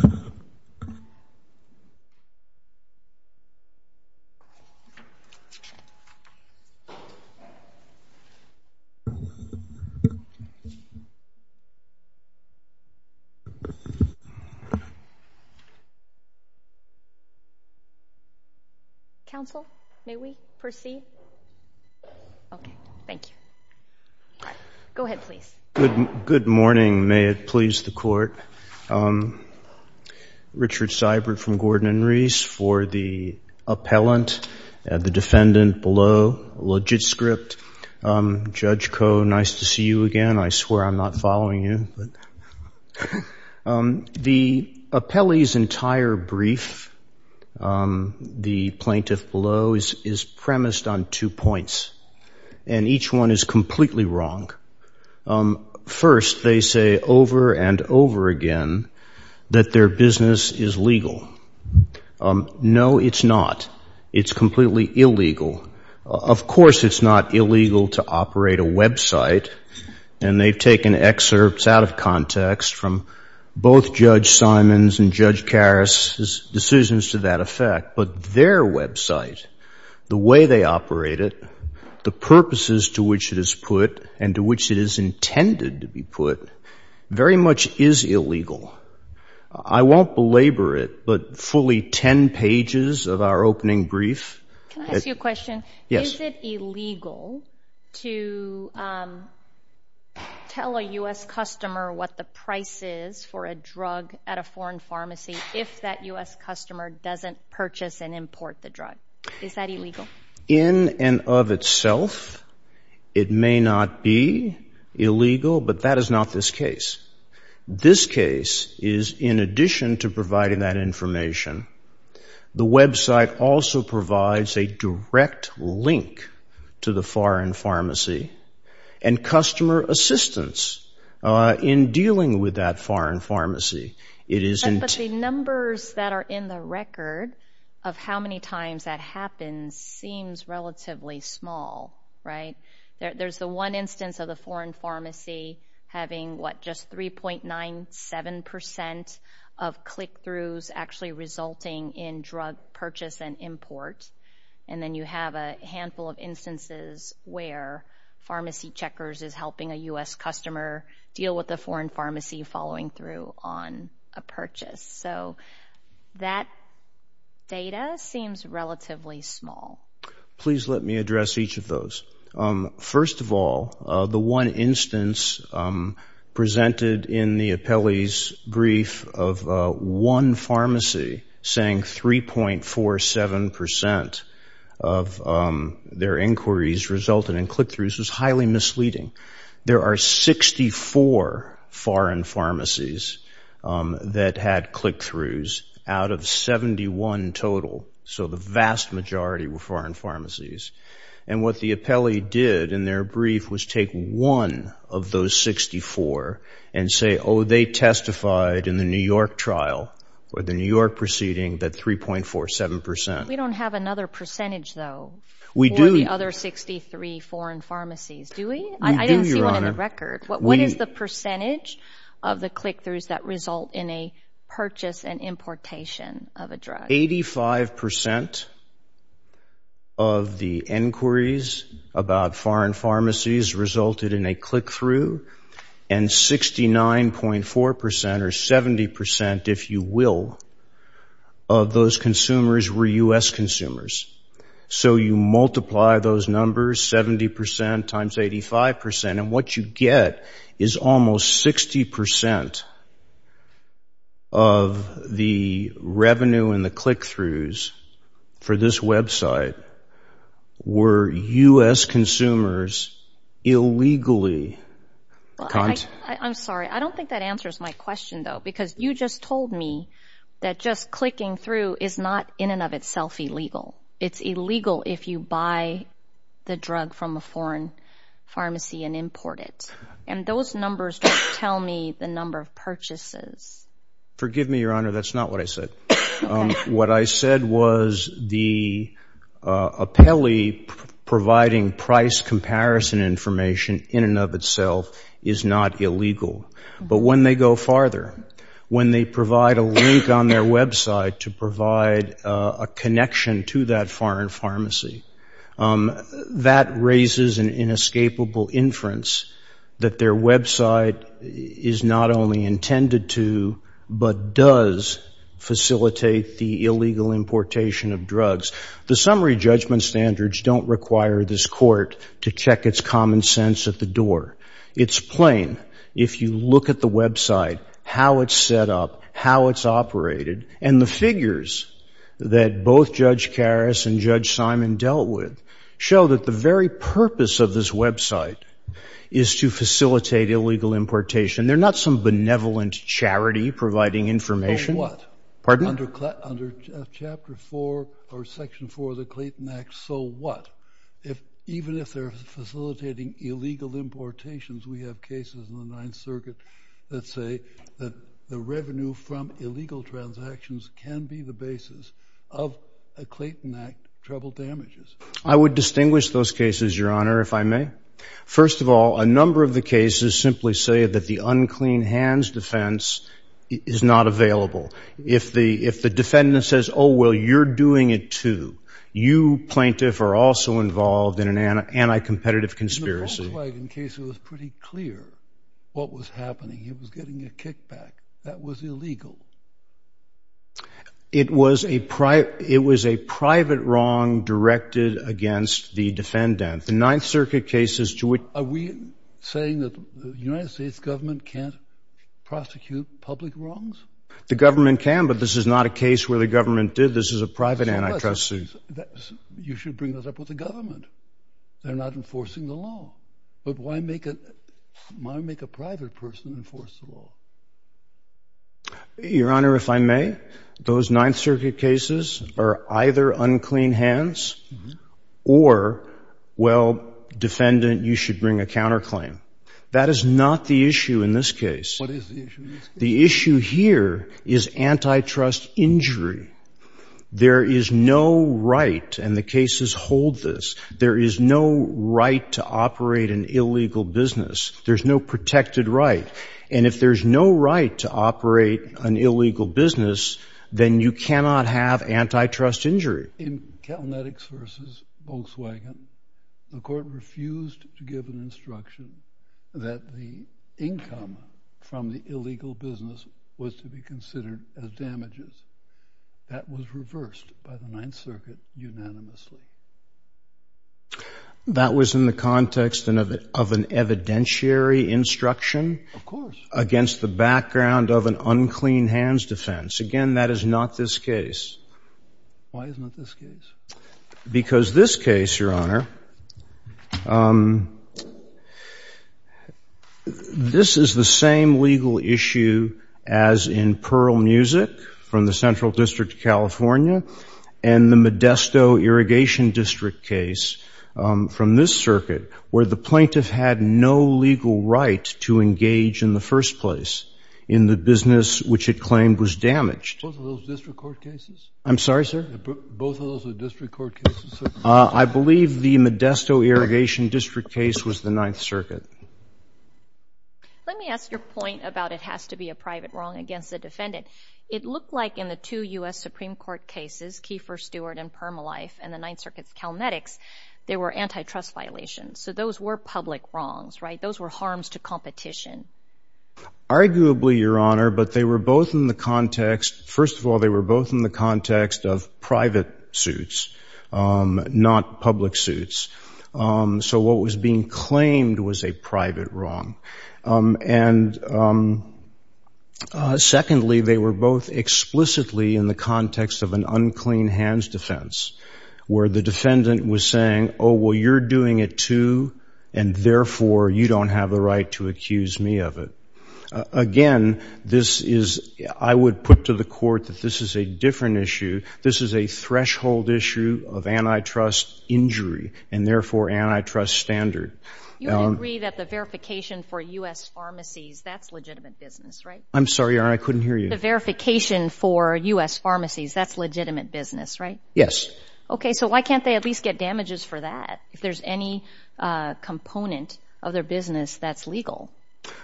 . Council may we proceed. OK. Thank you. Go ahead, please. Good morning. May it please the court. Richard Seibert from Gordon and Reese for the appellant, the defendant below, legit script. Judge Koh, nice to see you again. I swear I'm not following you. The appellee's entire brief, the plaintiff below, is premised on two points. And each one is completely wrong. First, they say over and over again that their business is legal. No, it's not. It's completely illegal. Of course, it's not illegal to operate a website. And they've taken excerpts out of context from both Judge Simons and Judge Karas' decisions to that effect. But their website, the way they operate it, the purposes to which it is put, and to which it is intended to be put, very much is illegal. I won't belabor it, but fully 10 pages of our opening brief. Can I ask you a question? Yes. Is it illegal to tell a US customer what the price is for a drug at a foreign pharmacy if that US customer doesn't purchase and import the drug? Is that illegal? In and of itself, it may not be illegal, but that is not this case. This case is, in addition to providing that information, the website also provides a direct link to the foreign pharmacy and customer assistance in dealing with that foreign pharmacy. But the numbers that are in the record of how many times that happens seems relatively small. There's the one instance of the foreign pharmacy having, what, just 3.97% of click-throughs actually resulting in drug purchase and import. And then you have a handful of instances where Pharmacy Checkers is helping a US customer deal with a foreign pharmacy following through on a purchase. So that data seems relatively small. Please let me address each of those. First of all, the one instance presented in the appellee's brief of one pharmacy saying 3.47% of their inquiries resulted in click-throughs was highly misleading. There are 64 foreign pharmacies that had click-throughs out of 71 total. So the vast majority were foreign pharmacies. And what the appellee did in their brief was take one of those 64 and say, oh, they testified in the New York trial, or the New York proceeding, that 3.47%. We don't have another percentage, though, for the other 63 foreign pharmacies, do we? I didn't see one in the record. What is the percentage of the click-throughs that result in a purchase and importation of a drug? 85% of the inquiries about foreign pharmacies resulted in a click-through. And 69.4% or 70%, if you will, of those consumers were US consumers. So you multiply those numbers, 70% times 85%. And what you get is almost 60% of the revenue and the click-throughs for this website were US consumers illegally. I'm sorry. I don't think that answers my question, though, because you just told me that just clicking through is not in and of itself illegal. It's illegal if you buy the drug from a foreign pharmacy and import it. And those numbers don't tell me the number of purchases. Forgive me, Your Honor, that's not what I said. What I said was the appellee providing price comparison information in and of itself is not illegal. But when they go farther, when they provide a link on their website to provide a connection to that foreign pharmacy, that raises an inescapable inference that their website is not only intended to, but does facilitate the illegal importation of drugs. The summary judgment standards don't require this court to check its common sense at the door. It's plain. If you look at the website, how it's set up, how it's operated, and the figures that both Judge Karras and Judge Simon dealt with show that the very purpose of this website is to facilitate illegal importation. They're not some benevolent charity providing information. So what? Pardon? Under Chapter 4 or Section 4 of the Clayton Act, so what? Even if they're facilitating illegal importations, we have cases in the Ninth Circuit that say that the revenue from illegal transactions can be the basis of a Clayton Act trouble damages. I would distinguish those cases, Your Honor, if I may. First of all, a number of the cases simply say that the unclean hands defense is not available. If the defendant says, oh, well, you're doing it too, you, plaintiff, are also involved in an anti-competitive conspiracy. In the Volkswagen case, it was pretty clear what was happening. He was getting a kickback. That was illegal. It was a private wrong directed against the defendant. The Ninth Circuit cases to which... Are we saying that the United States government can't prosecute public wrongs? The government can, but this is not a case where the government did. This is a private antitrust suit. You should bring those up with the government. They're not enforcing the law. But why make a private person enforce the law? Your Honor, if I may, those Ninth Circuit cases are either unclean hands or, well, defendant, you should bring a counterclaim. That is not the issue in this case. What is the issue in this case? The issue here is antitrust injury. There is no right, and the cases hold this, there is no right to operate an illegal business. There's no protected right. And if there's no right to operate an illegal business, then you cannot have antitrust injury. In Calnetics versus Volkswagen, the court refused to give an instruction that the income from the illegal business was to be considered as damages. That was reversed by the Ninth Circuit unanimously. That was in the context of an evidentiary instruction against the background of an unclean hands defense. Again, that is not this case. Why is not this case? Because this case, Your Honor, this is the same legal issue as in Pearl Music from the Central District of California and the Modesto Irrigation District case from this circuit where the plaintiff had no legal right to engage in the first place in the business which it claimed was damaged. Both of those district court cases? I'm sorry, sir? Both of those are district court cases? I believe the Modesto Irrigation District case was the Ninth Circuit. Let me ask your point about it has to be a private wrong against the defendant. It looked like in the two U.S. Supreme Court cases, Kiefer, Stewart, and Permalife and the Ninth Circuit's Calnetics, there were antitrust violations. So those were public wrongs, right? Those were harms to competition. Arguably, Your Honor, but they were both in the context, first of all, they were both in the context of private suits, not public suits. So what was being claimed was a private wrong. And secondly, they were both explicitly in the context of an unclean hands defense where the defendant was saying, oh, well, you're doing it too, and therefore you don't have the right to accuse me of it. Again, this is, I would put to the court that this is a different issue. This is a threshold issue of antitrust injury and therefore antitrust standard. You would agree that the verification for U.S. pharmacies, that's legitimate business, right? I'm sorry, Your Honor, I couldn't hear you. The verification for U.S. pharmacies, that's legitimate business, right? Yes. Okay, so why can't they at least get damages for that? If there's any component of their business that's legal.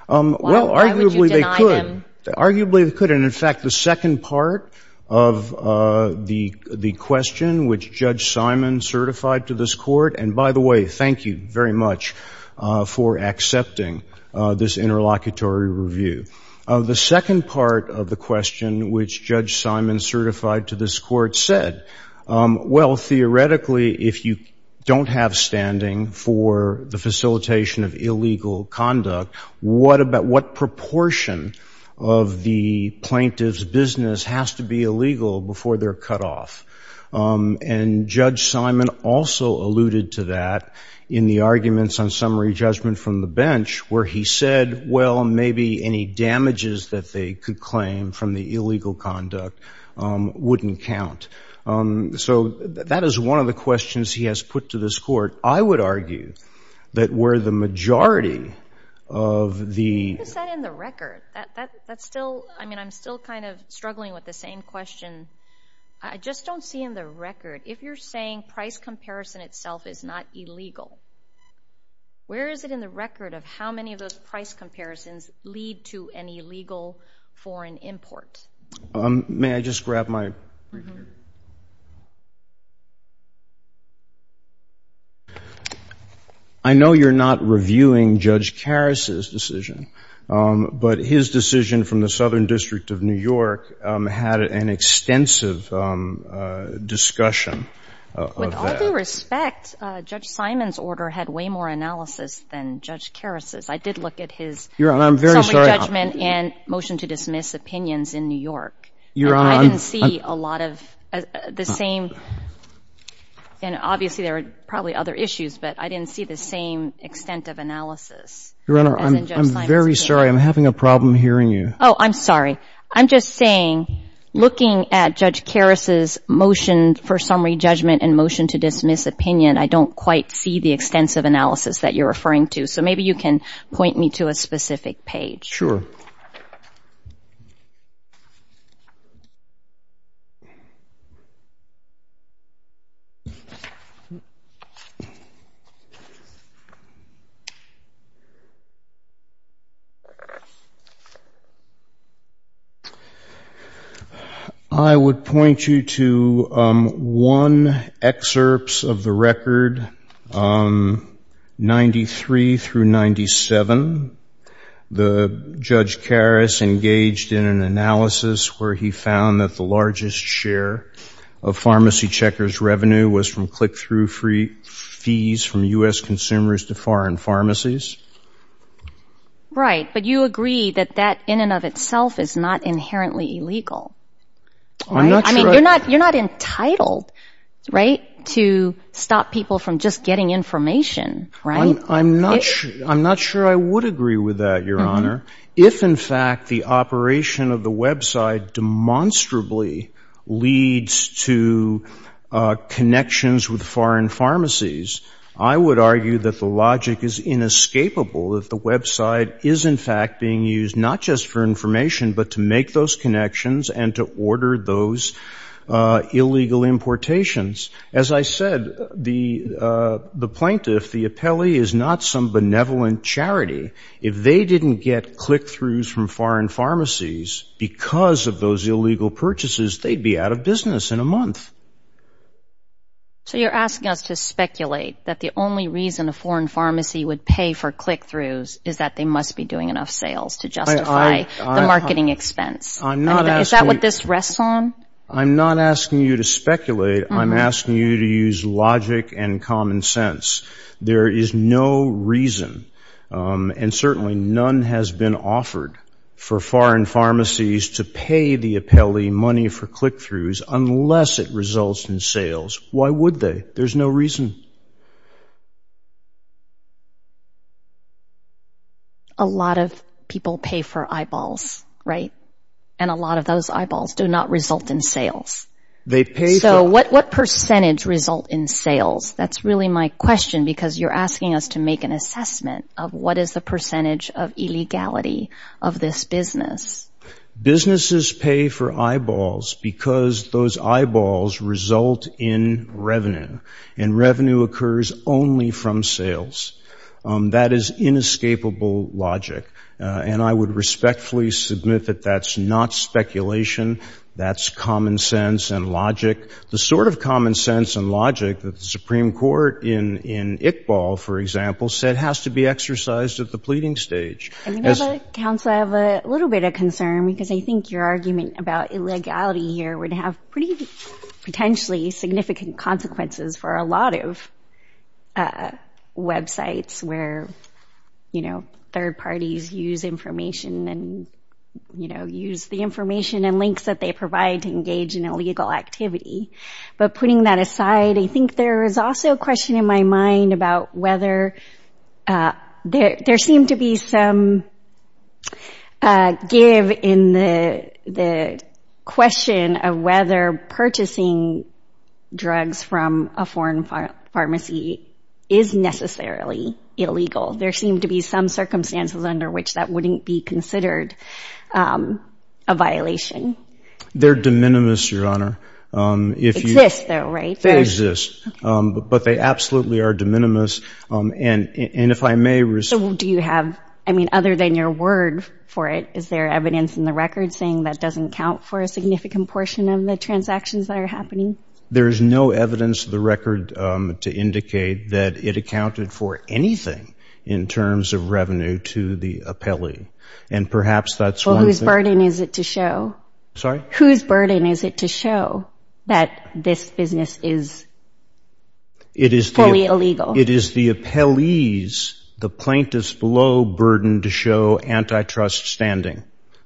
Well, arguably they could. Arguably they could, and in fact, the second part of the question which Judge Simon certified to this court, and by the way, thank you very much for accepting this interlocutory review. The second part of the question which Judge Simon certified to this court said, well, theoretically, if you don't have standing for the facilitation of illegal conduct, what proportion of the plaintiff's business has to be illegal before they're cut off? And Judge Simon also alluded to that in the arguments on summary judgment from the bench where he said, well, maybe any damages that they could claim from the illegal conduct wouldn't count. So that is one of the questions he has put to this court. I would argue that where the majority of the- What is that in the record? That's still, I mean, I'm still kind of struggling with the same question. I just don't see in the record, if you're saying price comparison itself is not illegal, where is it in the record of how many of those price comparisons lead to an illegal foreign import? May I just grab my- I know you're not reviewing Judge Karas's decision, but his decision from the Southern District of New York had an extensive discussion of that. With all due respect, Judge Simon's order had way more analysis than Judge Karas's. I did look at his- Your Honor, I'm very sorry- Summary judgment and motion to dismiss opinions in New York. Your Honor, I'm- And I didn't see a lot of the same, and obviously there were probably other issues, but I didn't see the same extent of analysis as in Judge Simon's case. Your Honor, I'm very sorry. I'm having a problem hearing you. Oh, I'm sorry. I'm just saying, looking at Judge Karas's motion for summary judgment and motion to dismiss opinion, I don't quite see the extensive analysis that you're referring to, so maybe you can point me to a specific page. Sure. I would point you to one excerpts of the record, 93 through 97. The Judge Karas engaged in an analysis where he found that the largest share of pharmacy checkers' revenue was from click-through fees from U.S. consumers to foreign pharmacies. Right, but you agree that that in and of itself is not inherently illegal, right? I mean, you're not entitled, right, to stop people from just getting information, right? I'm not sure I would agree with that, Your Honor. If, in fact, the operation of the website demonstrably leads to connections with foreign pharmacies, I would argue that the logic is inescapable that the website is, in fact, being used not just for information but to make those connections and to order those illegal importations. As I said, the plaintiff, the appellee, is not some benevolent charity. If they didn't get click-throughs from foreign pharmacies because of those illegal purchases, they'd be out of business in a month. So you're asking us to speculate that the only reason a foreign pharmacy would pay for click-throughs is that they must be doing enough sales to justify the marketing expense. I'm not asking... Is that what this rests on? I'm not asking you to speculate. I'm asking you to use logic and common sense. There is no reason, and certainly none has been offered, for foreign pharmacies to pay the appellee money for click-throughs unless it results in sales. Why would they? There's no reason. A lot of people pay for eyeballs, right? And a lot of those eyeballs do not result in sales. They pay for... So what percentage result in sales? That's really my question because you're asking us to make an assessment of what is the percentage of illegality of this business. Businesses pay for eyeballs because those eyeballs result in revenue, and revenue occurs only from sales. That is inescapable logic, and I would respectfully submit that that's not speculation. That's common sense and logic. The sort of common sense and logic that the Supreme Court in Iqbal, for example, said has to be exercised at the pleading stage. And, Madam Counsel, I have a little bit of concern because I think your argument about illegality here would have pretty potentially significant consequences for a lot of websites where third parties use information and use the information and links that they provide to engage in illegal activity. But putting that aside, I think there is also a question in my mind about whether... There seemed to be some give in the question of whether purchasing drugs from a foreign pharmacy is necessarily illegal. There seemed to be some circumstances under which that wouldn't be considered a violation. They're de minimis, Your Honor. If you... Exists, though, right? They exist, but they absolutely are de minimis, and if I may... Do you have, I mean, other than your word for it, is there evidence in the records saying that doesn't count for a significant portion of the transactions that are happening? There is no evidence in the record to indicate that it accounted for anything in terms of revenue to the appellee, and perhaps that's one thing... Well, whose burden is it to show? Sorry? Whose burden is it to show that this business is fully illegal? It is the appellee's, the plaintiff's, below burden to show antitrust standing,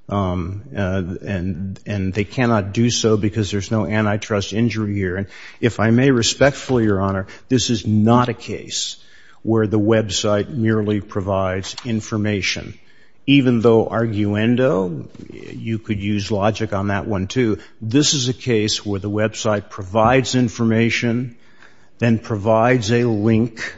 and they cannot do so because there's no antitrust injury here, and if I may respectfully, Your Honor, this is not a case where the website merely provides information, even though arguendo, you could use logic on that one too, this is a case where the website provides information, then provides a link,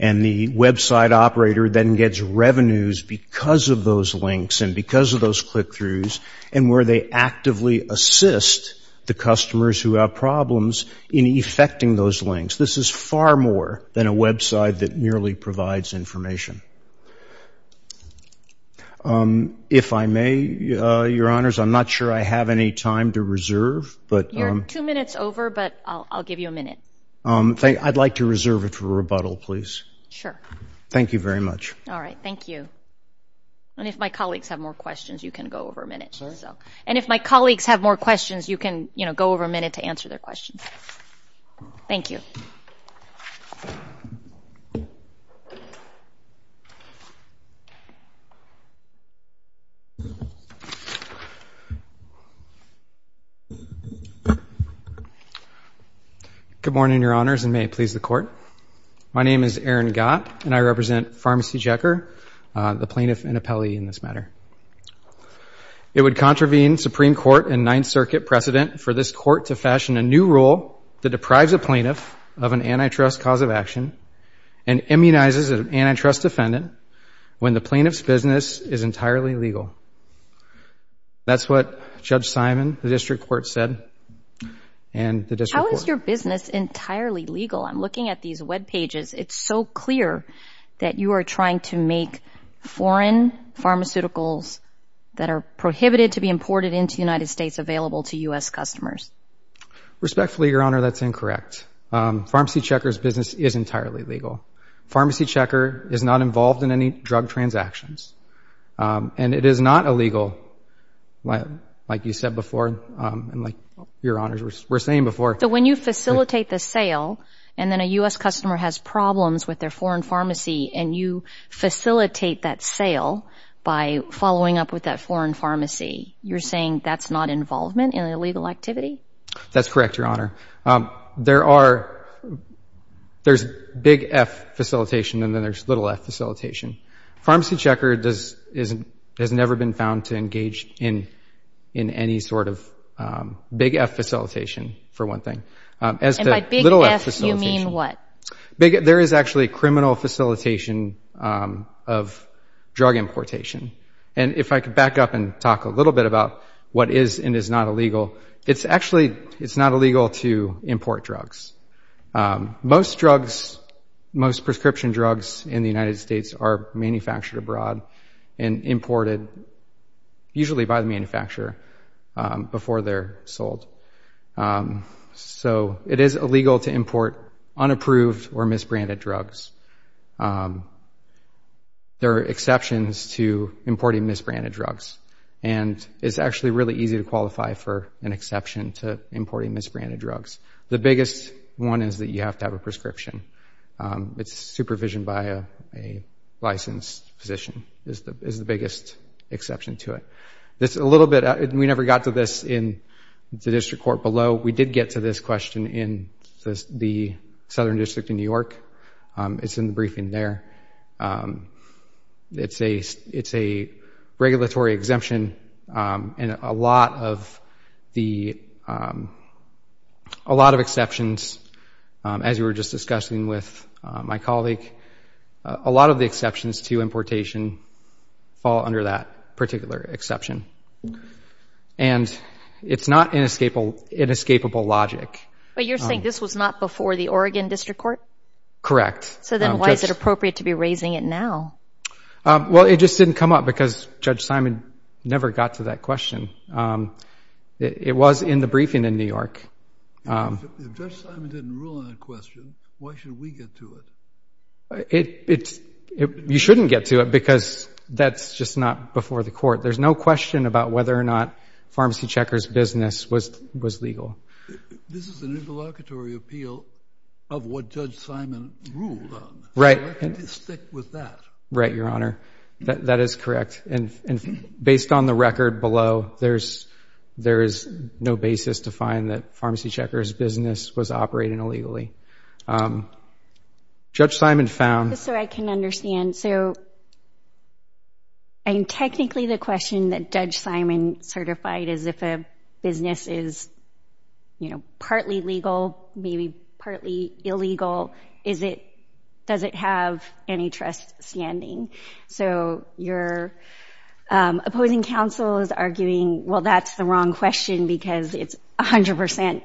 and the website operator then gets revenues because of those links and because of those click-throughs, and where they actively assist the customers who have problems in effecting those links. This is far more than a website that merely provides information. If I may, Your Honors, I'm not sure I have any time to reserve, but... You're two minutes over, but I'll give you a minute. I'd like to reserve it for rebuttal, please. Sure. Thank you very much. All right, thank you. And if my colleagues have more questions, you can go over a minute. And if my colleagues have more questions, you can go over a minute to answer their questions. Thank you. Good morning, Your Honors, and may it please the Court. My name is Aaron Gott, and I represent Pharmacy Checker, the plaintiff and appellee in this matter. It would contravene Supreme Court and Ninth Circuit precedent for this Court to fashion a new rule that deprives a plaintiff of an antitrust cause of action and immunizes an antitrust defendant when the plaintiff's business is entirely legal. That's what Judge Simon, the District Court, said, and the District Court... How is your business entirely legal? I'm looking at these webpages. It's so clear that you are trying to make foreign pharmaceuticals that are prohibited to be imported into the United States available to U.S. customers. Respectfully, Your Honor, that's incorrect. Pharmacy Checker's business is entirely legal. Pharmacy Checker is not involved in any drug transactions, and it is not illegal, like you said before, and like Your Honors were saying before. So when you facilitate the sale, and then a U.S. customer has problems with their foreign pharmacy, and you facilitate that sale by following up with that foreign pharmacy, you're saying that's not involvement in illegal activity? That's correct, Your Honor. There's big F facilitation, and then there's little f facilitation. Pharmacy Checker has never been found to engage in any sort of big F facilitation, for one thing. And by big F, you mean what? There is actually criminal facilitation of drug importation. And if I could back up and talk a little bit about what is and is not illegal, it's actually, it's not illegal to import drugs. Most drugs, most prescription drugs in the United States are manufactured abroad and imported, usually by the manufacturer, before they're sold. So it is illegal to import unapproved or misbranded drugs. There are exceptions to importing misbranded drugs, and it's actually really easy to qualify for an exception to importing misbranded drugs. The biggest one is that you have to have a prescription. It's supervision by a licensed physician is the biggest exception to it. This is a little bit, we never got to this in the district court below. We did get to this question in the Southern District in New York. It's in the briefing there. It's a regulatory exemption, and a lot of the, a lot of exceptions, as we were just discussing with my colleague, a lot of the exceptions to importation fall under that particular exception. And it's not inescapable logic. But you're saying this was not before the Oregon District Court? Correct. So then why is it appropriate to be raising it now? Well, it just didn't come up because Judge Simon never got to that question. It was in the briefing in New York. If Judge Simon didn't rule on that question, why should we get to it? You shouldn't get to it because that's just not before the court. There's no question about whether or not Pharmacy Checker's business was legal. This is an interlocutory appeal of what Judge Simon ruled on. Right. So why can't you stick with that? Right, Your Honor. That is correct. And based on the record below, there is no basis to find that Pharmacy Checker's business was operating illegally. Judge Simon found- Just so I can understand. So technically the question that Judge Simon certified is if a business is partly legal, maybe partly illegal, does it have any trust standing? So your opposing counsel is arguing, well, that's the wrong question because it's 100%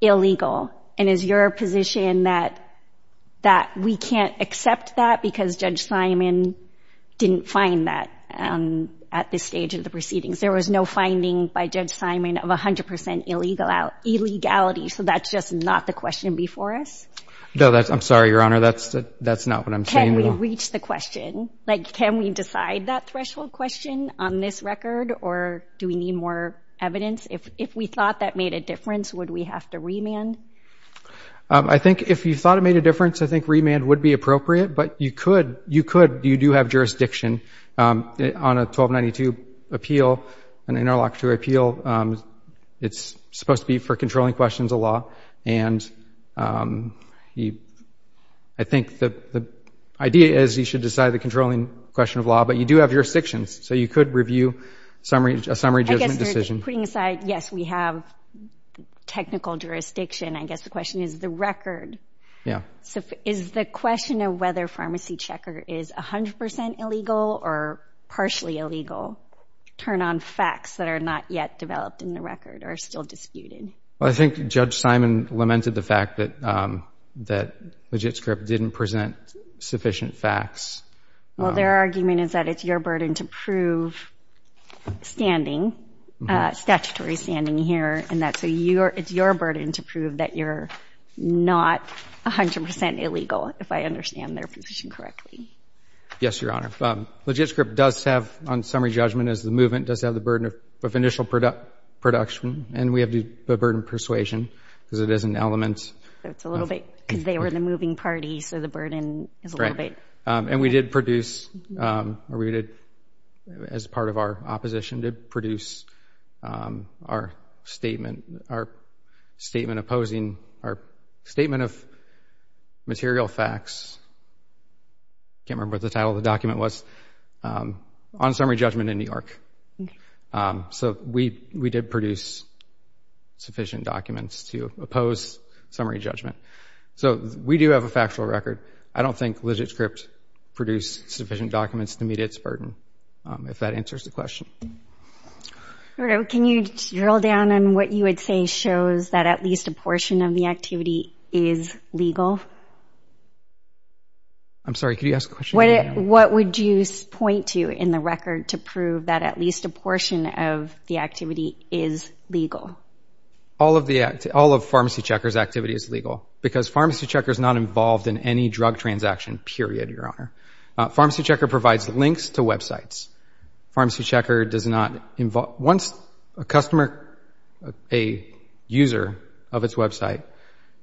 illegal. And is your position that we can't accept that because Judge Simon didn't find that at this stage of the proceedings? There was no finding by Judge Simon of 100% illegality. So that's just not the question before us? No, I'm sorry, Your Honor. That's not what I'm saying. Can we reach the question? Like, can we decide that threshold question on this record or do we need more evidence? If we thought that made a difference, would we have to remand? I think if you thought it made a difference, I think remand would be appropriate, but you could, you do have jurisdiction on a 1292 appeal, an interlocutory appeal. It's supposed to be for controlling questions of law. And I think the idea is you should decide the controlling question of law, but you do have jurisdictions. So you could review a summary judgment decision. Putting aside, yes, we have technical jurisdiction. I guess the question is the record. Yeah. So is the question of whether Pharmacy Checker is 100% illegal or partially illegal turn on facts that are not yet developed in the record or are still disputed? Well, I think Judge Simon lamented the fact that LegitScript didn't present sufficient facts. Well, their argument is that it's your burden to prove standing, statutory standing here, and that it's your burden to prove that you're not 100% illegal, if I understand their position correctly. Yes, Your Honor. LegitScript does have, on summary judgment, as the movement does have the burden of initial production, and we have the burden of persuasion, because it is an element. That's a little bit, because they were the moving party, so the burden is a little bit. And we did produce, or we did, as part of our opposition, did produce our statement, our statement opposing, our statement of material facts, can't remember what the title of the document was, on summary judgment in New York. So we did produce sufficient documents to oppose summary judgment. So we do have a factual record. I don't think LegitScript produced sufficient documents to meet its burden, if that answers the question. Can you drill down on what you would say shows that at least a portion of the activity is legal? I'm sorry, could you ask a question? What would you point to in the record to prove that at least a portion of the activity is legal? All of PharmacyChecker's activity is legal, because PharmacyChecker's not involved in any drug transaction, period, Your Honor. PharmacyChecker provides links to websites. PharmacyChecker does not involve, once a customer, a user of its website,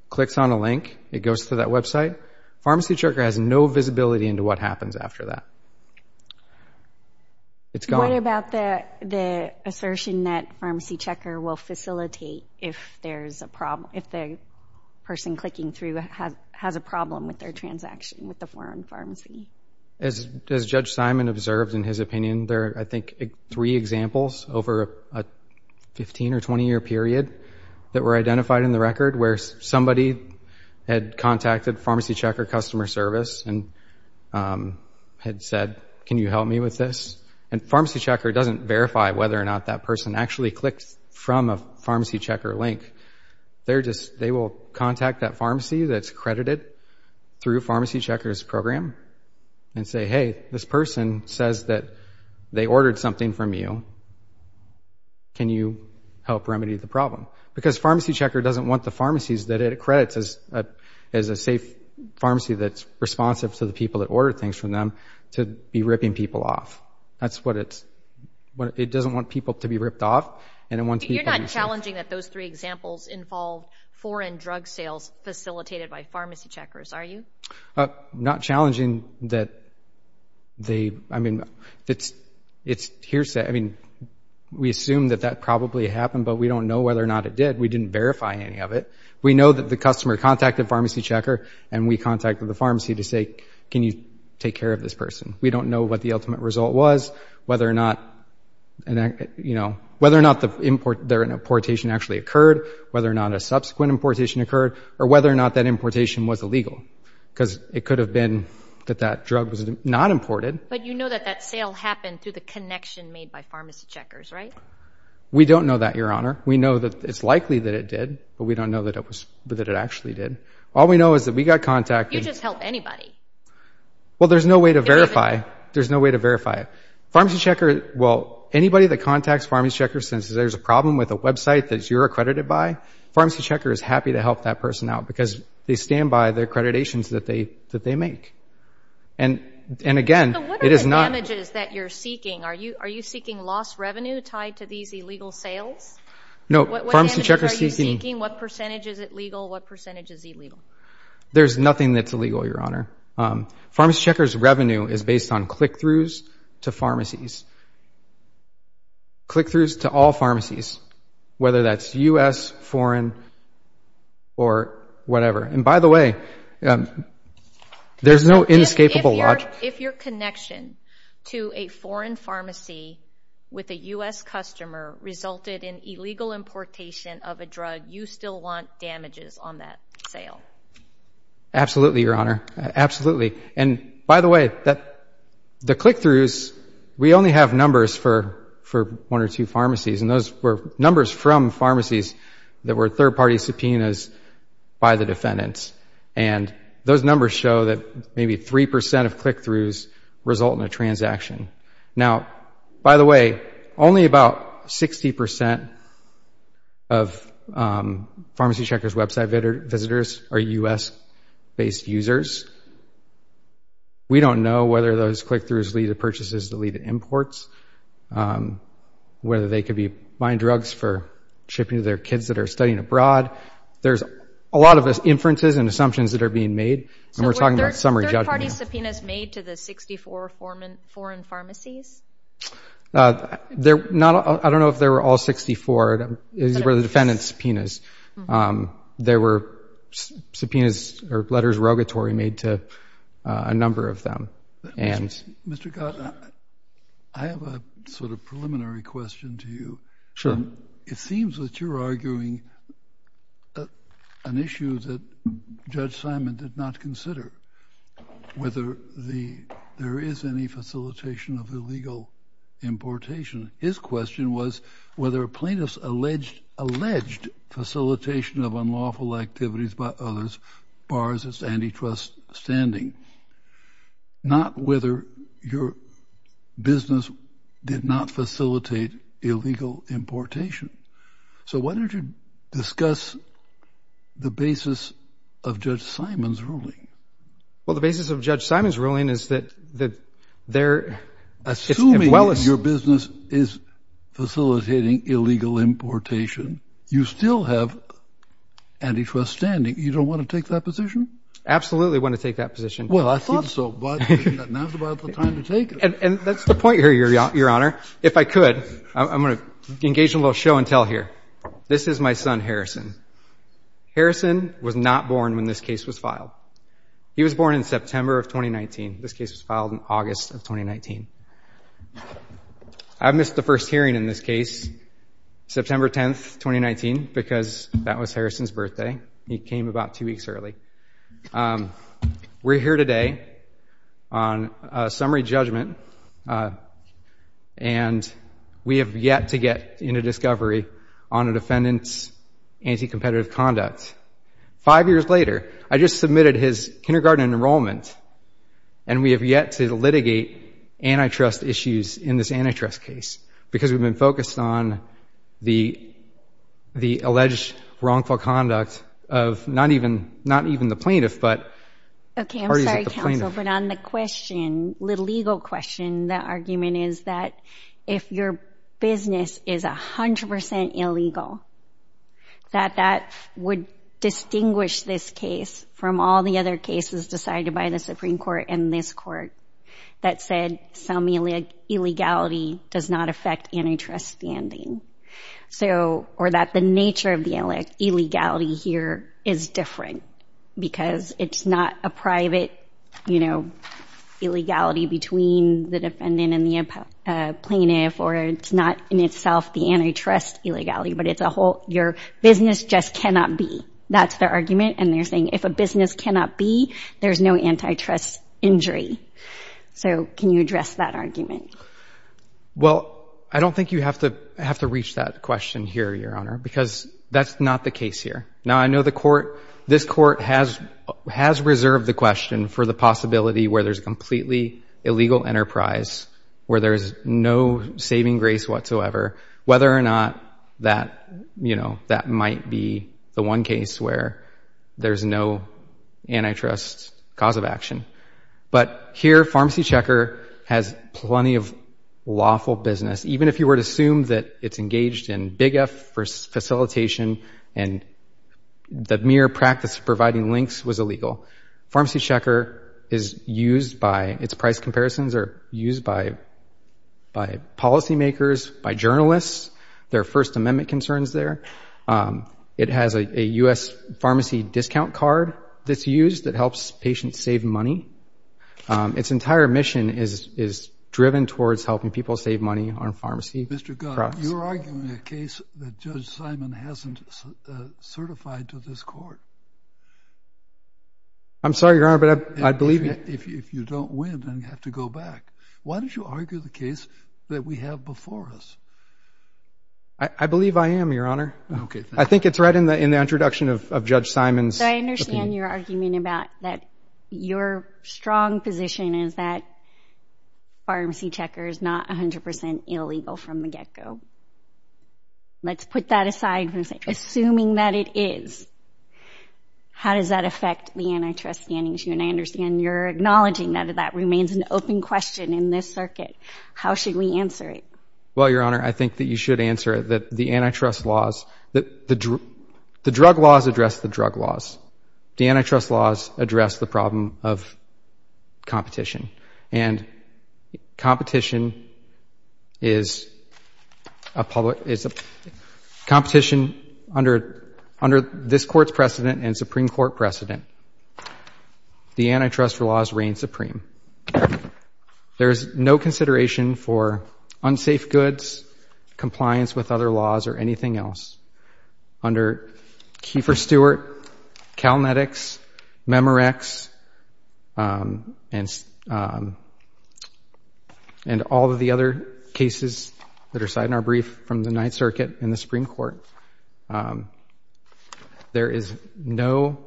clicks on a link, it goes to that website, PharmacyChecker has no visibility into what happens after that. It's gone. What about the assertion that PharmacyChecker will facilitate if there's a problem, if the person clicking through has a problem with their transaction with the foreign pharmacy? As Judge Simon observed in his opinion, there are, I think, three examples over a 15 or 20 year period that were identified in the record where somebody had contacted PharmacyChecker customer service and had said, can you help me with this? And PharmacyChecker doesn't verify whether or not that person actually clicked from a PharmacyChecker link. They will contact that pharmacy that's credited through PharmacyChecker's program and say, hey, this person says that they ordered something from you. Can you help remedy the problem? Because PharmacyChecker doesn't want the pharmacies that it accredits as a safe pharmacy that's responsive to the people that order things from them to be ripping people off. That's what it's, it doesn't want people to be ripped off, and it wants people to be safe. You're not challenging that those three examples involve foreign drug sales facilitated by PharmacyCheckers, are you? Not challenging that they, I mean, it's hearsay, I mean, we assume that that probably happened, but we don't know whether or not it did. We didn't verify any of it. We know that the customer contacted PharmacyChecker and we contacted the pharmacy to say, can you take care of this person? We don't know what the ultimate result was, whether or not, you know, whether or not their importation actually occurred, whether or not a subsequent importation occurred, or whether or not that importation was illegal, because it could have been that that drug was not imported. But you know that that sale happened through the connection made by PharmacyCheckers, right? We don't know that, Your Honor. We know that it's likely that it did, but we don't know that it actually did. All we know is that we got contacted. You just helped anybody. Well, there's no way to verify, there's no way to verify it. PharmacyChecker, well, anybody that contacts PharmacyChecker says there's a problem with a website that you're accredited by, PharmacyChecker is happy to help that person out because they stand by their accreditations that they make. And again, it is not- So what are the damages that you're seeking? Are you seeking lost revenue tied to these illegal sales? No, PharmacyChecker's seeking- What percentage is it legal? What percentage is illegal? There's nothing that's illegal, Your Honor. PharmacyChecker's revenue is based on click-throughs to pharmacies. Click-throughs to all pharmacies, whether that's U.S., foreign, or whatever. And by the way, there's no inescapable- If your connection to a foreign pharmacy with a U.S. customer resulted in illegal importation of a drug, you still want damages on that sale? Absolutely, Your Honor, absolutely. And by the way, the click-throughs, we only have numbers for one or two pharmacies, and those were numbers from pharmacies that were third-party subpoenas by the defendants. And those numbers show that maybe 3% of click-throughs result in a transaction. Now, by the way, only about 60% of PharmacyChecker's website visitors are U.S.-based users. We don't know whether those click-throughs lead to purchases that lead to imports, whether they could be buying drugs for shipping to their kids that are studying abroad. There's a lot of inferences and assumptions that are being made, and we're talking about summary judgment now. So were third-party subpoenas made to the 64 foreign pharmacies? They're not, I don't know if they were all 64. These were the defendant's subpoenas. There were subpoenas or letters of rogatory made to a number of them. Mr. Gott, I have a sort of preliminary question to you. Sure. It seems that you're arguing an issue that Judge Simon did not consider, whether there is any facilitation of illegal importation. His question was whether a plaintiff's alleged facilitation of unlawful activities by others bars its antitrust standing. Not whether your business did not facilitate illegal importation. So why don't you discuss the basis of Judge Simon's ruling? Well, the basis of Judge Simon's ruling is that they're, as well as- Assuming your business is facilitating illegal importation, you still have antitrust standing. You don't want to take that position? Absolutely want to take that position. Well, I thought so, but now's about the time to take it. And that's the point here, Your Honor. If I could, I'm going to engage in a little show and tell here. This is my son, Harrison. Harrison was not born when this case was filed. He was born in September of 2019. This case was filed in August of 2019. I missed the first hearing in this case, September 10th, 2019, because that was Harrison's birthday. He came about two weeks early. We're here today on a summary judgment, and we have yet to get into discovery on a defendant's anti-competitive conduct. Five years later, I just submitted his kindergarten enrollment, and we have yet to litigate antitrust issues in this antitrust case, because we've been focused on the alleged wrongful conduct of not even the plaintiff, but parties at the plaintiff. Okay, I'm sorry, counsel, but on the question, the legal question, the argument is that if your business is 100% illegal, that that would distinguish this case from all the other cases decided by the Supreme Court and this Court that said some illegality does not affect antitrust standing, or that the nature of the illegality here is different, because it's not a private illegality between the defendant and the plaintiff, or it's not in itself the antitrust illegality, but it's a whole, your business just cannot be. That's their argument, and they're saying, if a business cannot be, there's no antitrust injury. So can you address that argument? Well, I don't think you have to reach that question here, Your Honor, because that's not the case here. Now, I know this Court has reserved the question for the possibility where there's a completely illegal enterprise, where there's no saving grace whatsoever, whether or not that might be the one case where there's no antitrust cause of action. But here, Pharmacy Checker has plenty of lawful business, even if you were to assume that it's engaged in big F facilitation, and the mere practice of providing links was illegal. Pharmacy Checker is used by, its price comparisons are used by policymakers, by journalists, there are First Amendment concerns there. It has a U.S. pharmacy discount card that's used that helps patients save money. Its entire mission is driven towards helping people save money on pharmacy products. Mr. Gunn, you're arguing a case that Judge Simon hasn't certified to this Court. I'm sorry, Your Honor, but I believe you. If you don't win, then you have to go back. Why don't you argue the case that we have before us? I believe I am, Your Honor. Okay, thank you. I think it's right in the introduction of Judge Simon's. So I understand your argument about that your strong position is that Pharmacy Checker is not 100% illegal from the get-go. Let's put that aside for a second. Assuming that it is, how does that affect the antitrust standings, and I understand you're acknowledging that that remains an open question in this circuit. How should we answer it? Well, Your Honor, I think that you should answer it, that the antitrust laws, that the drug laws address the drug laws. The antitrust laws address the problem of competition, and competition is a public, competition under this Court's precedent and Supreme Court precedent. The antitrust laws reign supreme. There's no consideration for unsafe goods, compliance with other laws, or anything else. Under Kiefer-Stewart, Calnetics, Memorex, and all of the other cases that are cited in our brief from the Ninth Circuit and the Supreme Court, there is no,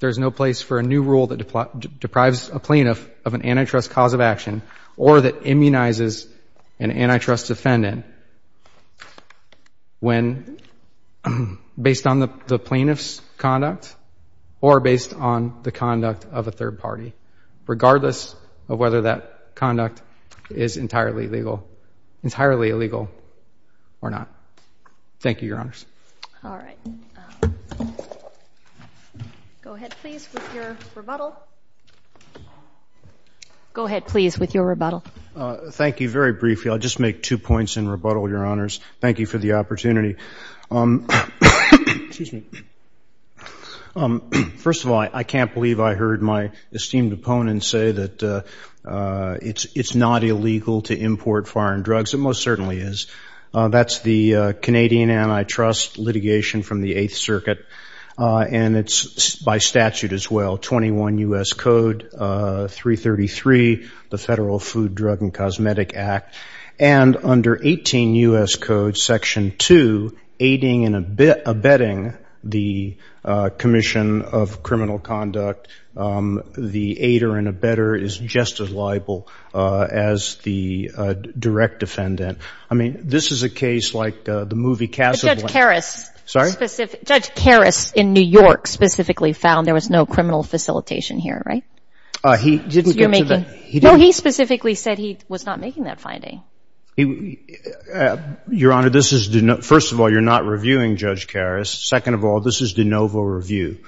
there's no place for a new rule that deprives a plaintiff of an antitrust cause of action, or that immunizes an antitrust defendant. When, based on the plaintiff's conduct, or based on the conduct of a third party, regardless of whether that conduct is entirely legal, entirely illegal, or not. Thank you, Your Honors. All right. Go ahead, please, with your rebuttal. Go ahead, please, with your rebuttal. Thank you, very briefly. I'll just make two points in rebuttal, Your Honors. Thank you for the opportunity. Excuse me. First of all, I can't believe I heard my esteemed opponent say that it's not illegal to import foreign drugs. It most certainly is. That's the Canadian antitrust litigation from the Eighth Circuit, and it's by statute as well. 21 U.S. Code 333, the Federal Food, Drug, and Cosmetic Act. And under 18 U.S. Code Section 2, aiding and abetting the Commission of Criminal Conduct, the aider and abetter is just as liable as the direct defendant. I mean, this is a case like the movie Casablanca. But Judge Karras. Sorry? Judge Karras, in New York, specifically found there was no criminal facilitation here, right? He didn't get to the, he didn't. No, he specifically said he was not making that finding. Your Honor, this is, first of all, you're not reviewing Judge Karras. Second of all, this is de novo review.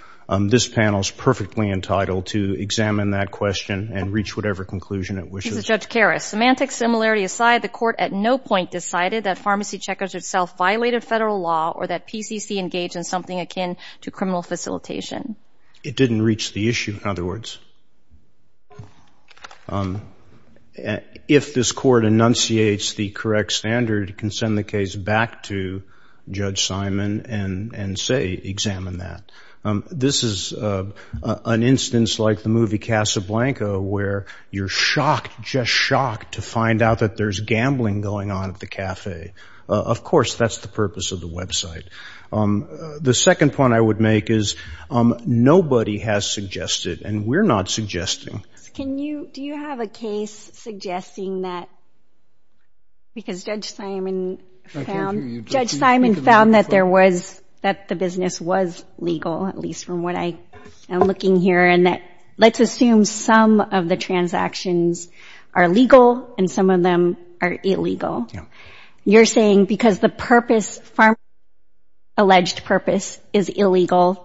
This panel's perfectly entitled to examine that question and reach whatever conclusion it wishes. This is Judge Karras. Semantic similarity aside, the court at no point decided that pharmacy checkers itself violated federal law or that PCC engaged in something akin to criminal facilitation. It didn't reach the issue, in other words. If this court enunciates the correct standard, it can send the case back to Judge Simon and say, examine that. This is an instance like the movie Casablanca where you're shocked, just shocked, to find out that there's gambling going on at the cafe. Of course, that's the purpose of the website. The second point I would make is nobody has suggested, and we're not suggesting. Can you, do you have a case suggesting that, because Judge Simon found, Judge Simon found that there was, that the business was legal, at least from what I am looking here, and that let's assume some of the transactions are legal and some of them are illegal. You're saying because the purpose, pharmacy's alleged purpose is illegal,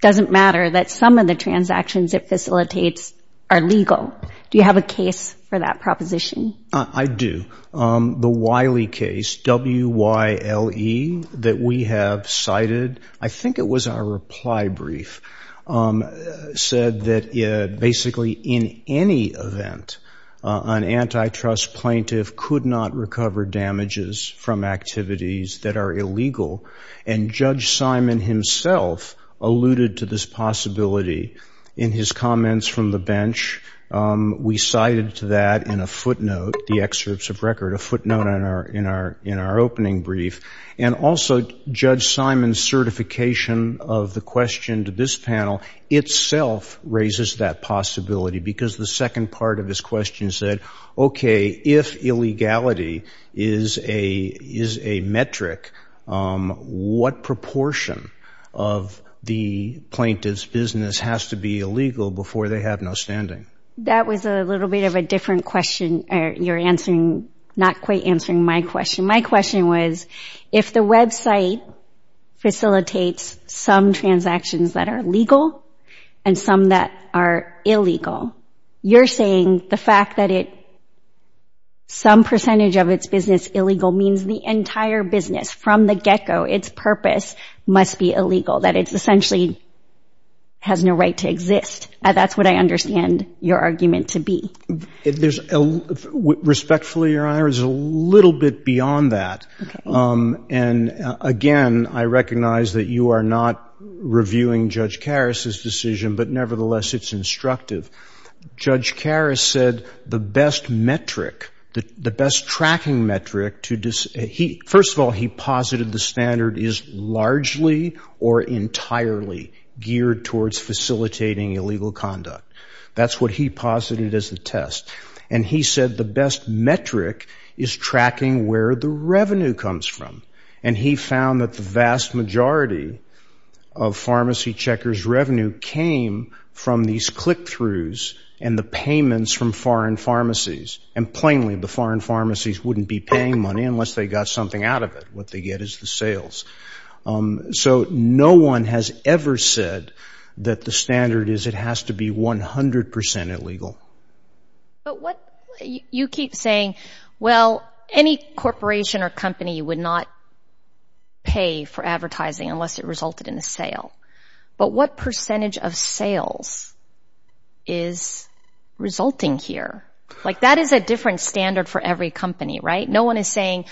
doesn't matter that some of the transactions it facilitates are legal. Do you have a case for that proposition? I do. The Wiley case, W-Y-L-E, that we have cited, I think it was our reply brief, said that basically in any event, an antitrust plaintiff could not recover damages from activities that are illegal, and Judge Simon himself alluded to this possibility in his comments from the bench. We cited to that in a footnote, the excerpts of record, a footnote in our opening brief, and also Judge Simon's certification of the question to this panel itself raises that possibility, because the second part of his question said, okay, if illegality is a metric, what proportion of the plaintiff's business has to be illegal before they have no standing? That was a little bit of a different question. You're not quite answering my question. My question was, if the website facilitates some transactions that are legal, and some that are illegal, you're saying the fact that some percentage of its business illegal means the entire business, from the get-go, its purpose must be illegal, that it essentially has no right to exist. That's what I understand your argument to be. Respectfully, Your Honor, it's a little bit beyond that. And again, I recognize that you are not reviewing Judge Karras' decision, but nevertheless, it's instructive. Judge Karras said the best metric, the best tracking metric to, first of all, he posited the standard is largely or entirely geared towards facilitating illegal conduct. That's what he posited as the test. And he said the best metric is tracking where the revenue comes from. And he found that the vast majority of pharmacy checkers' revenue came from these click-throughs and the payments from foreign pharmacies. And plainly, the foreign pharmacies wouldn't be paying money unless they got something out of it, what they get is the sales. So no one has ever said that the standard is it has to be 100% illegal. But what, you keep saying, well, any corporation or company would not pay for advertising unless it resulted in a sale. But what percentage of sales is resulting here? Like, that is a different standard for every company, right? No one is saying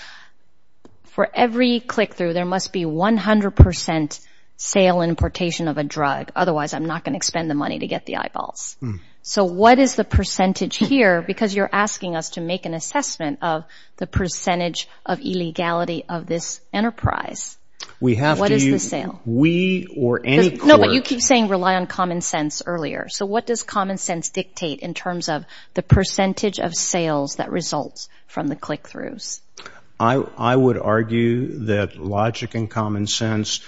for every click-through, there must be 100% sale and importation of a drug. Otherwise, I'm not gonna expend the money to get the eyeballs. So what is the percentage here? Because you're asking us to make an assessment of the percentage of illegality of this enterprise. What is the sale? We or any corp. No, but you keep saying rely on common sense earlier. So what does common sense dictate in terms of the percentage of sales that results from the click-throughs? I would argue that logic and common sense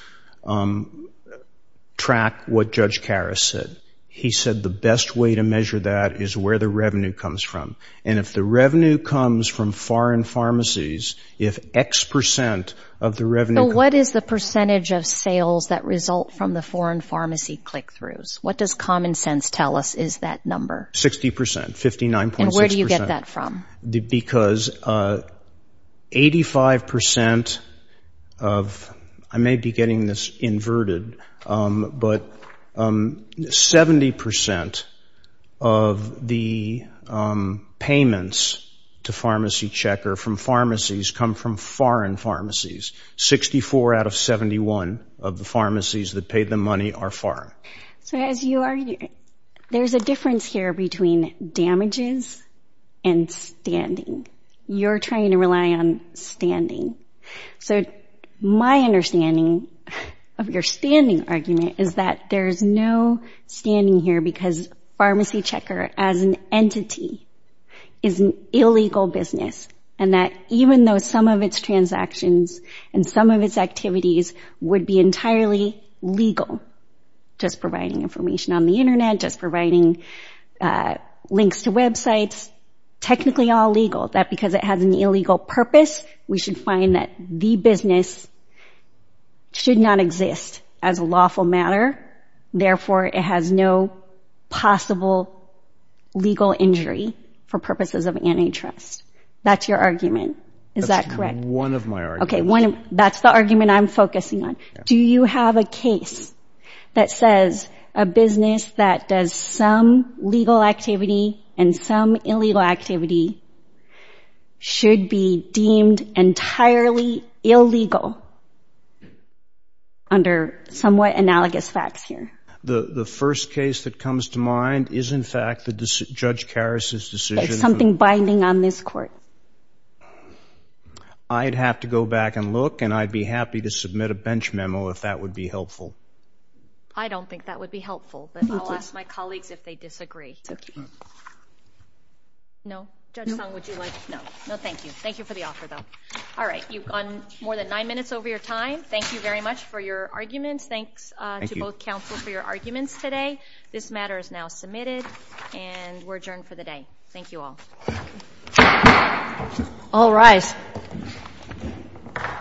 track what Judge Karras said. He said the best way to measure that is where the revenue comes from. And if the revenue comes from foreign pharmacies, if X percent of the revenue- So what is the percentage of sales that result from the foreign pharmacy click-throughs? What does common sense tell us is that number? 60%, 59.6%. And where do you get that from? Because 85% of, I may be getting this inverted, but 70% of the payments to PharmacyChecker from pharmacies come from foreign pharmacies. 64 out of 71 of the pharmacies that pay them money are foreign. So as you are, there's a difference here between damages and standing. You're trying to rely on standing. So my understanding of your standing argument is that there's no standing here because PharmacyChecker as an entity is an illegal business. And that even though some of its transactions and some of its activities would be entirely legal, just providing information on the internet, just providing links to websites, technically all legal, that because it has an illegal purpose, we should find that the business should not exist as a lawful matter. Therefore, it has no possible legal injury for purposes of antitrust. That's your argument. Is that correct? That's one of my arguments. That's the argument I'm focusing on. Do you have a case that says a business that does some legal activity and some illegal activity should be deemed entirely illegal under somewhat analogous facts here? The first case that comes to mind is in fact Judge Karas's decision. There's something binding on this court. I'd have to go back and look and I'd be happy to submit a bench memo if that would be helpful. I don't think that would be helpful, but I'll ask my colleagues if they disagree. No? Judge Song, would you like? No, no thank you. Thank you for the offer though. All right, you've gone more than nine minutes over your time. Thank you very much for your arguments. Thanks to both counsel for your arguments today. This matter is now submitted and we're adjourned for the day. Thank you all. All rise.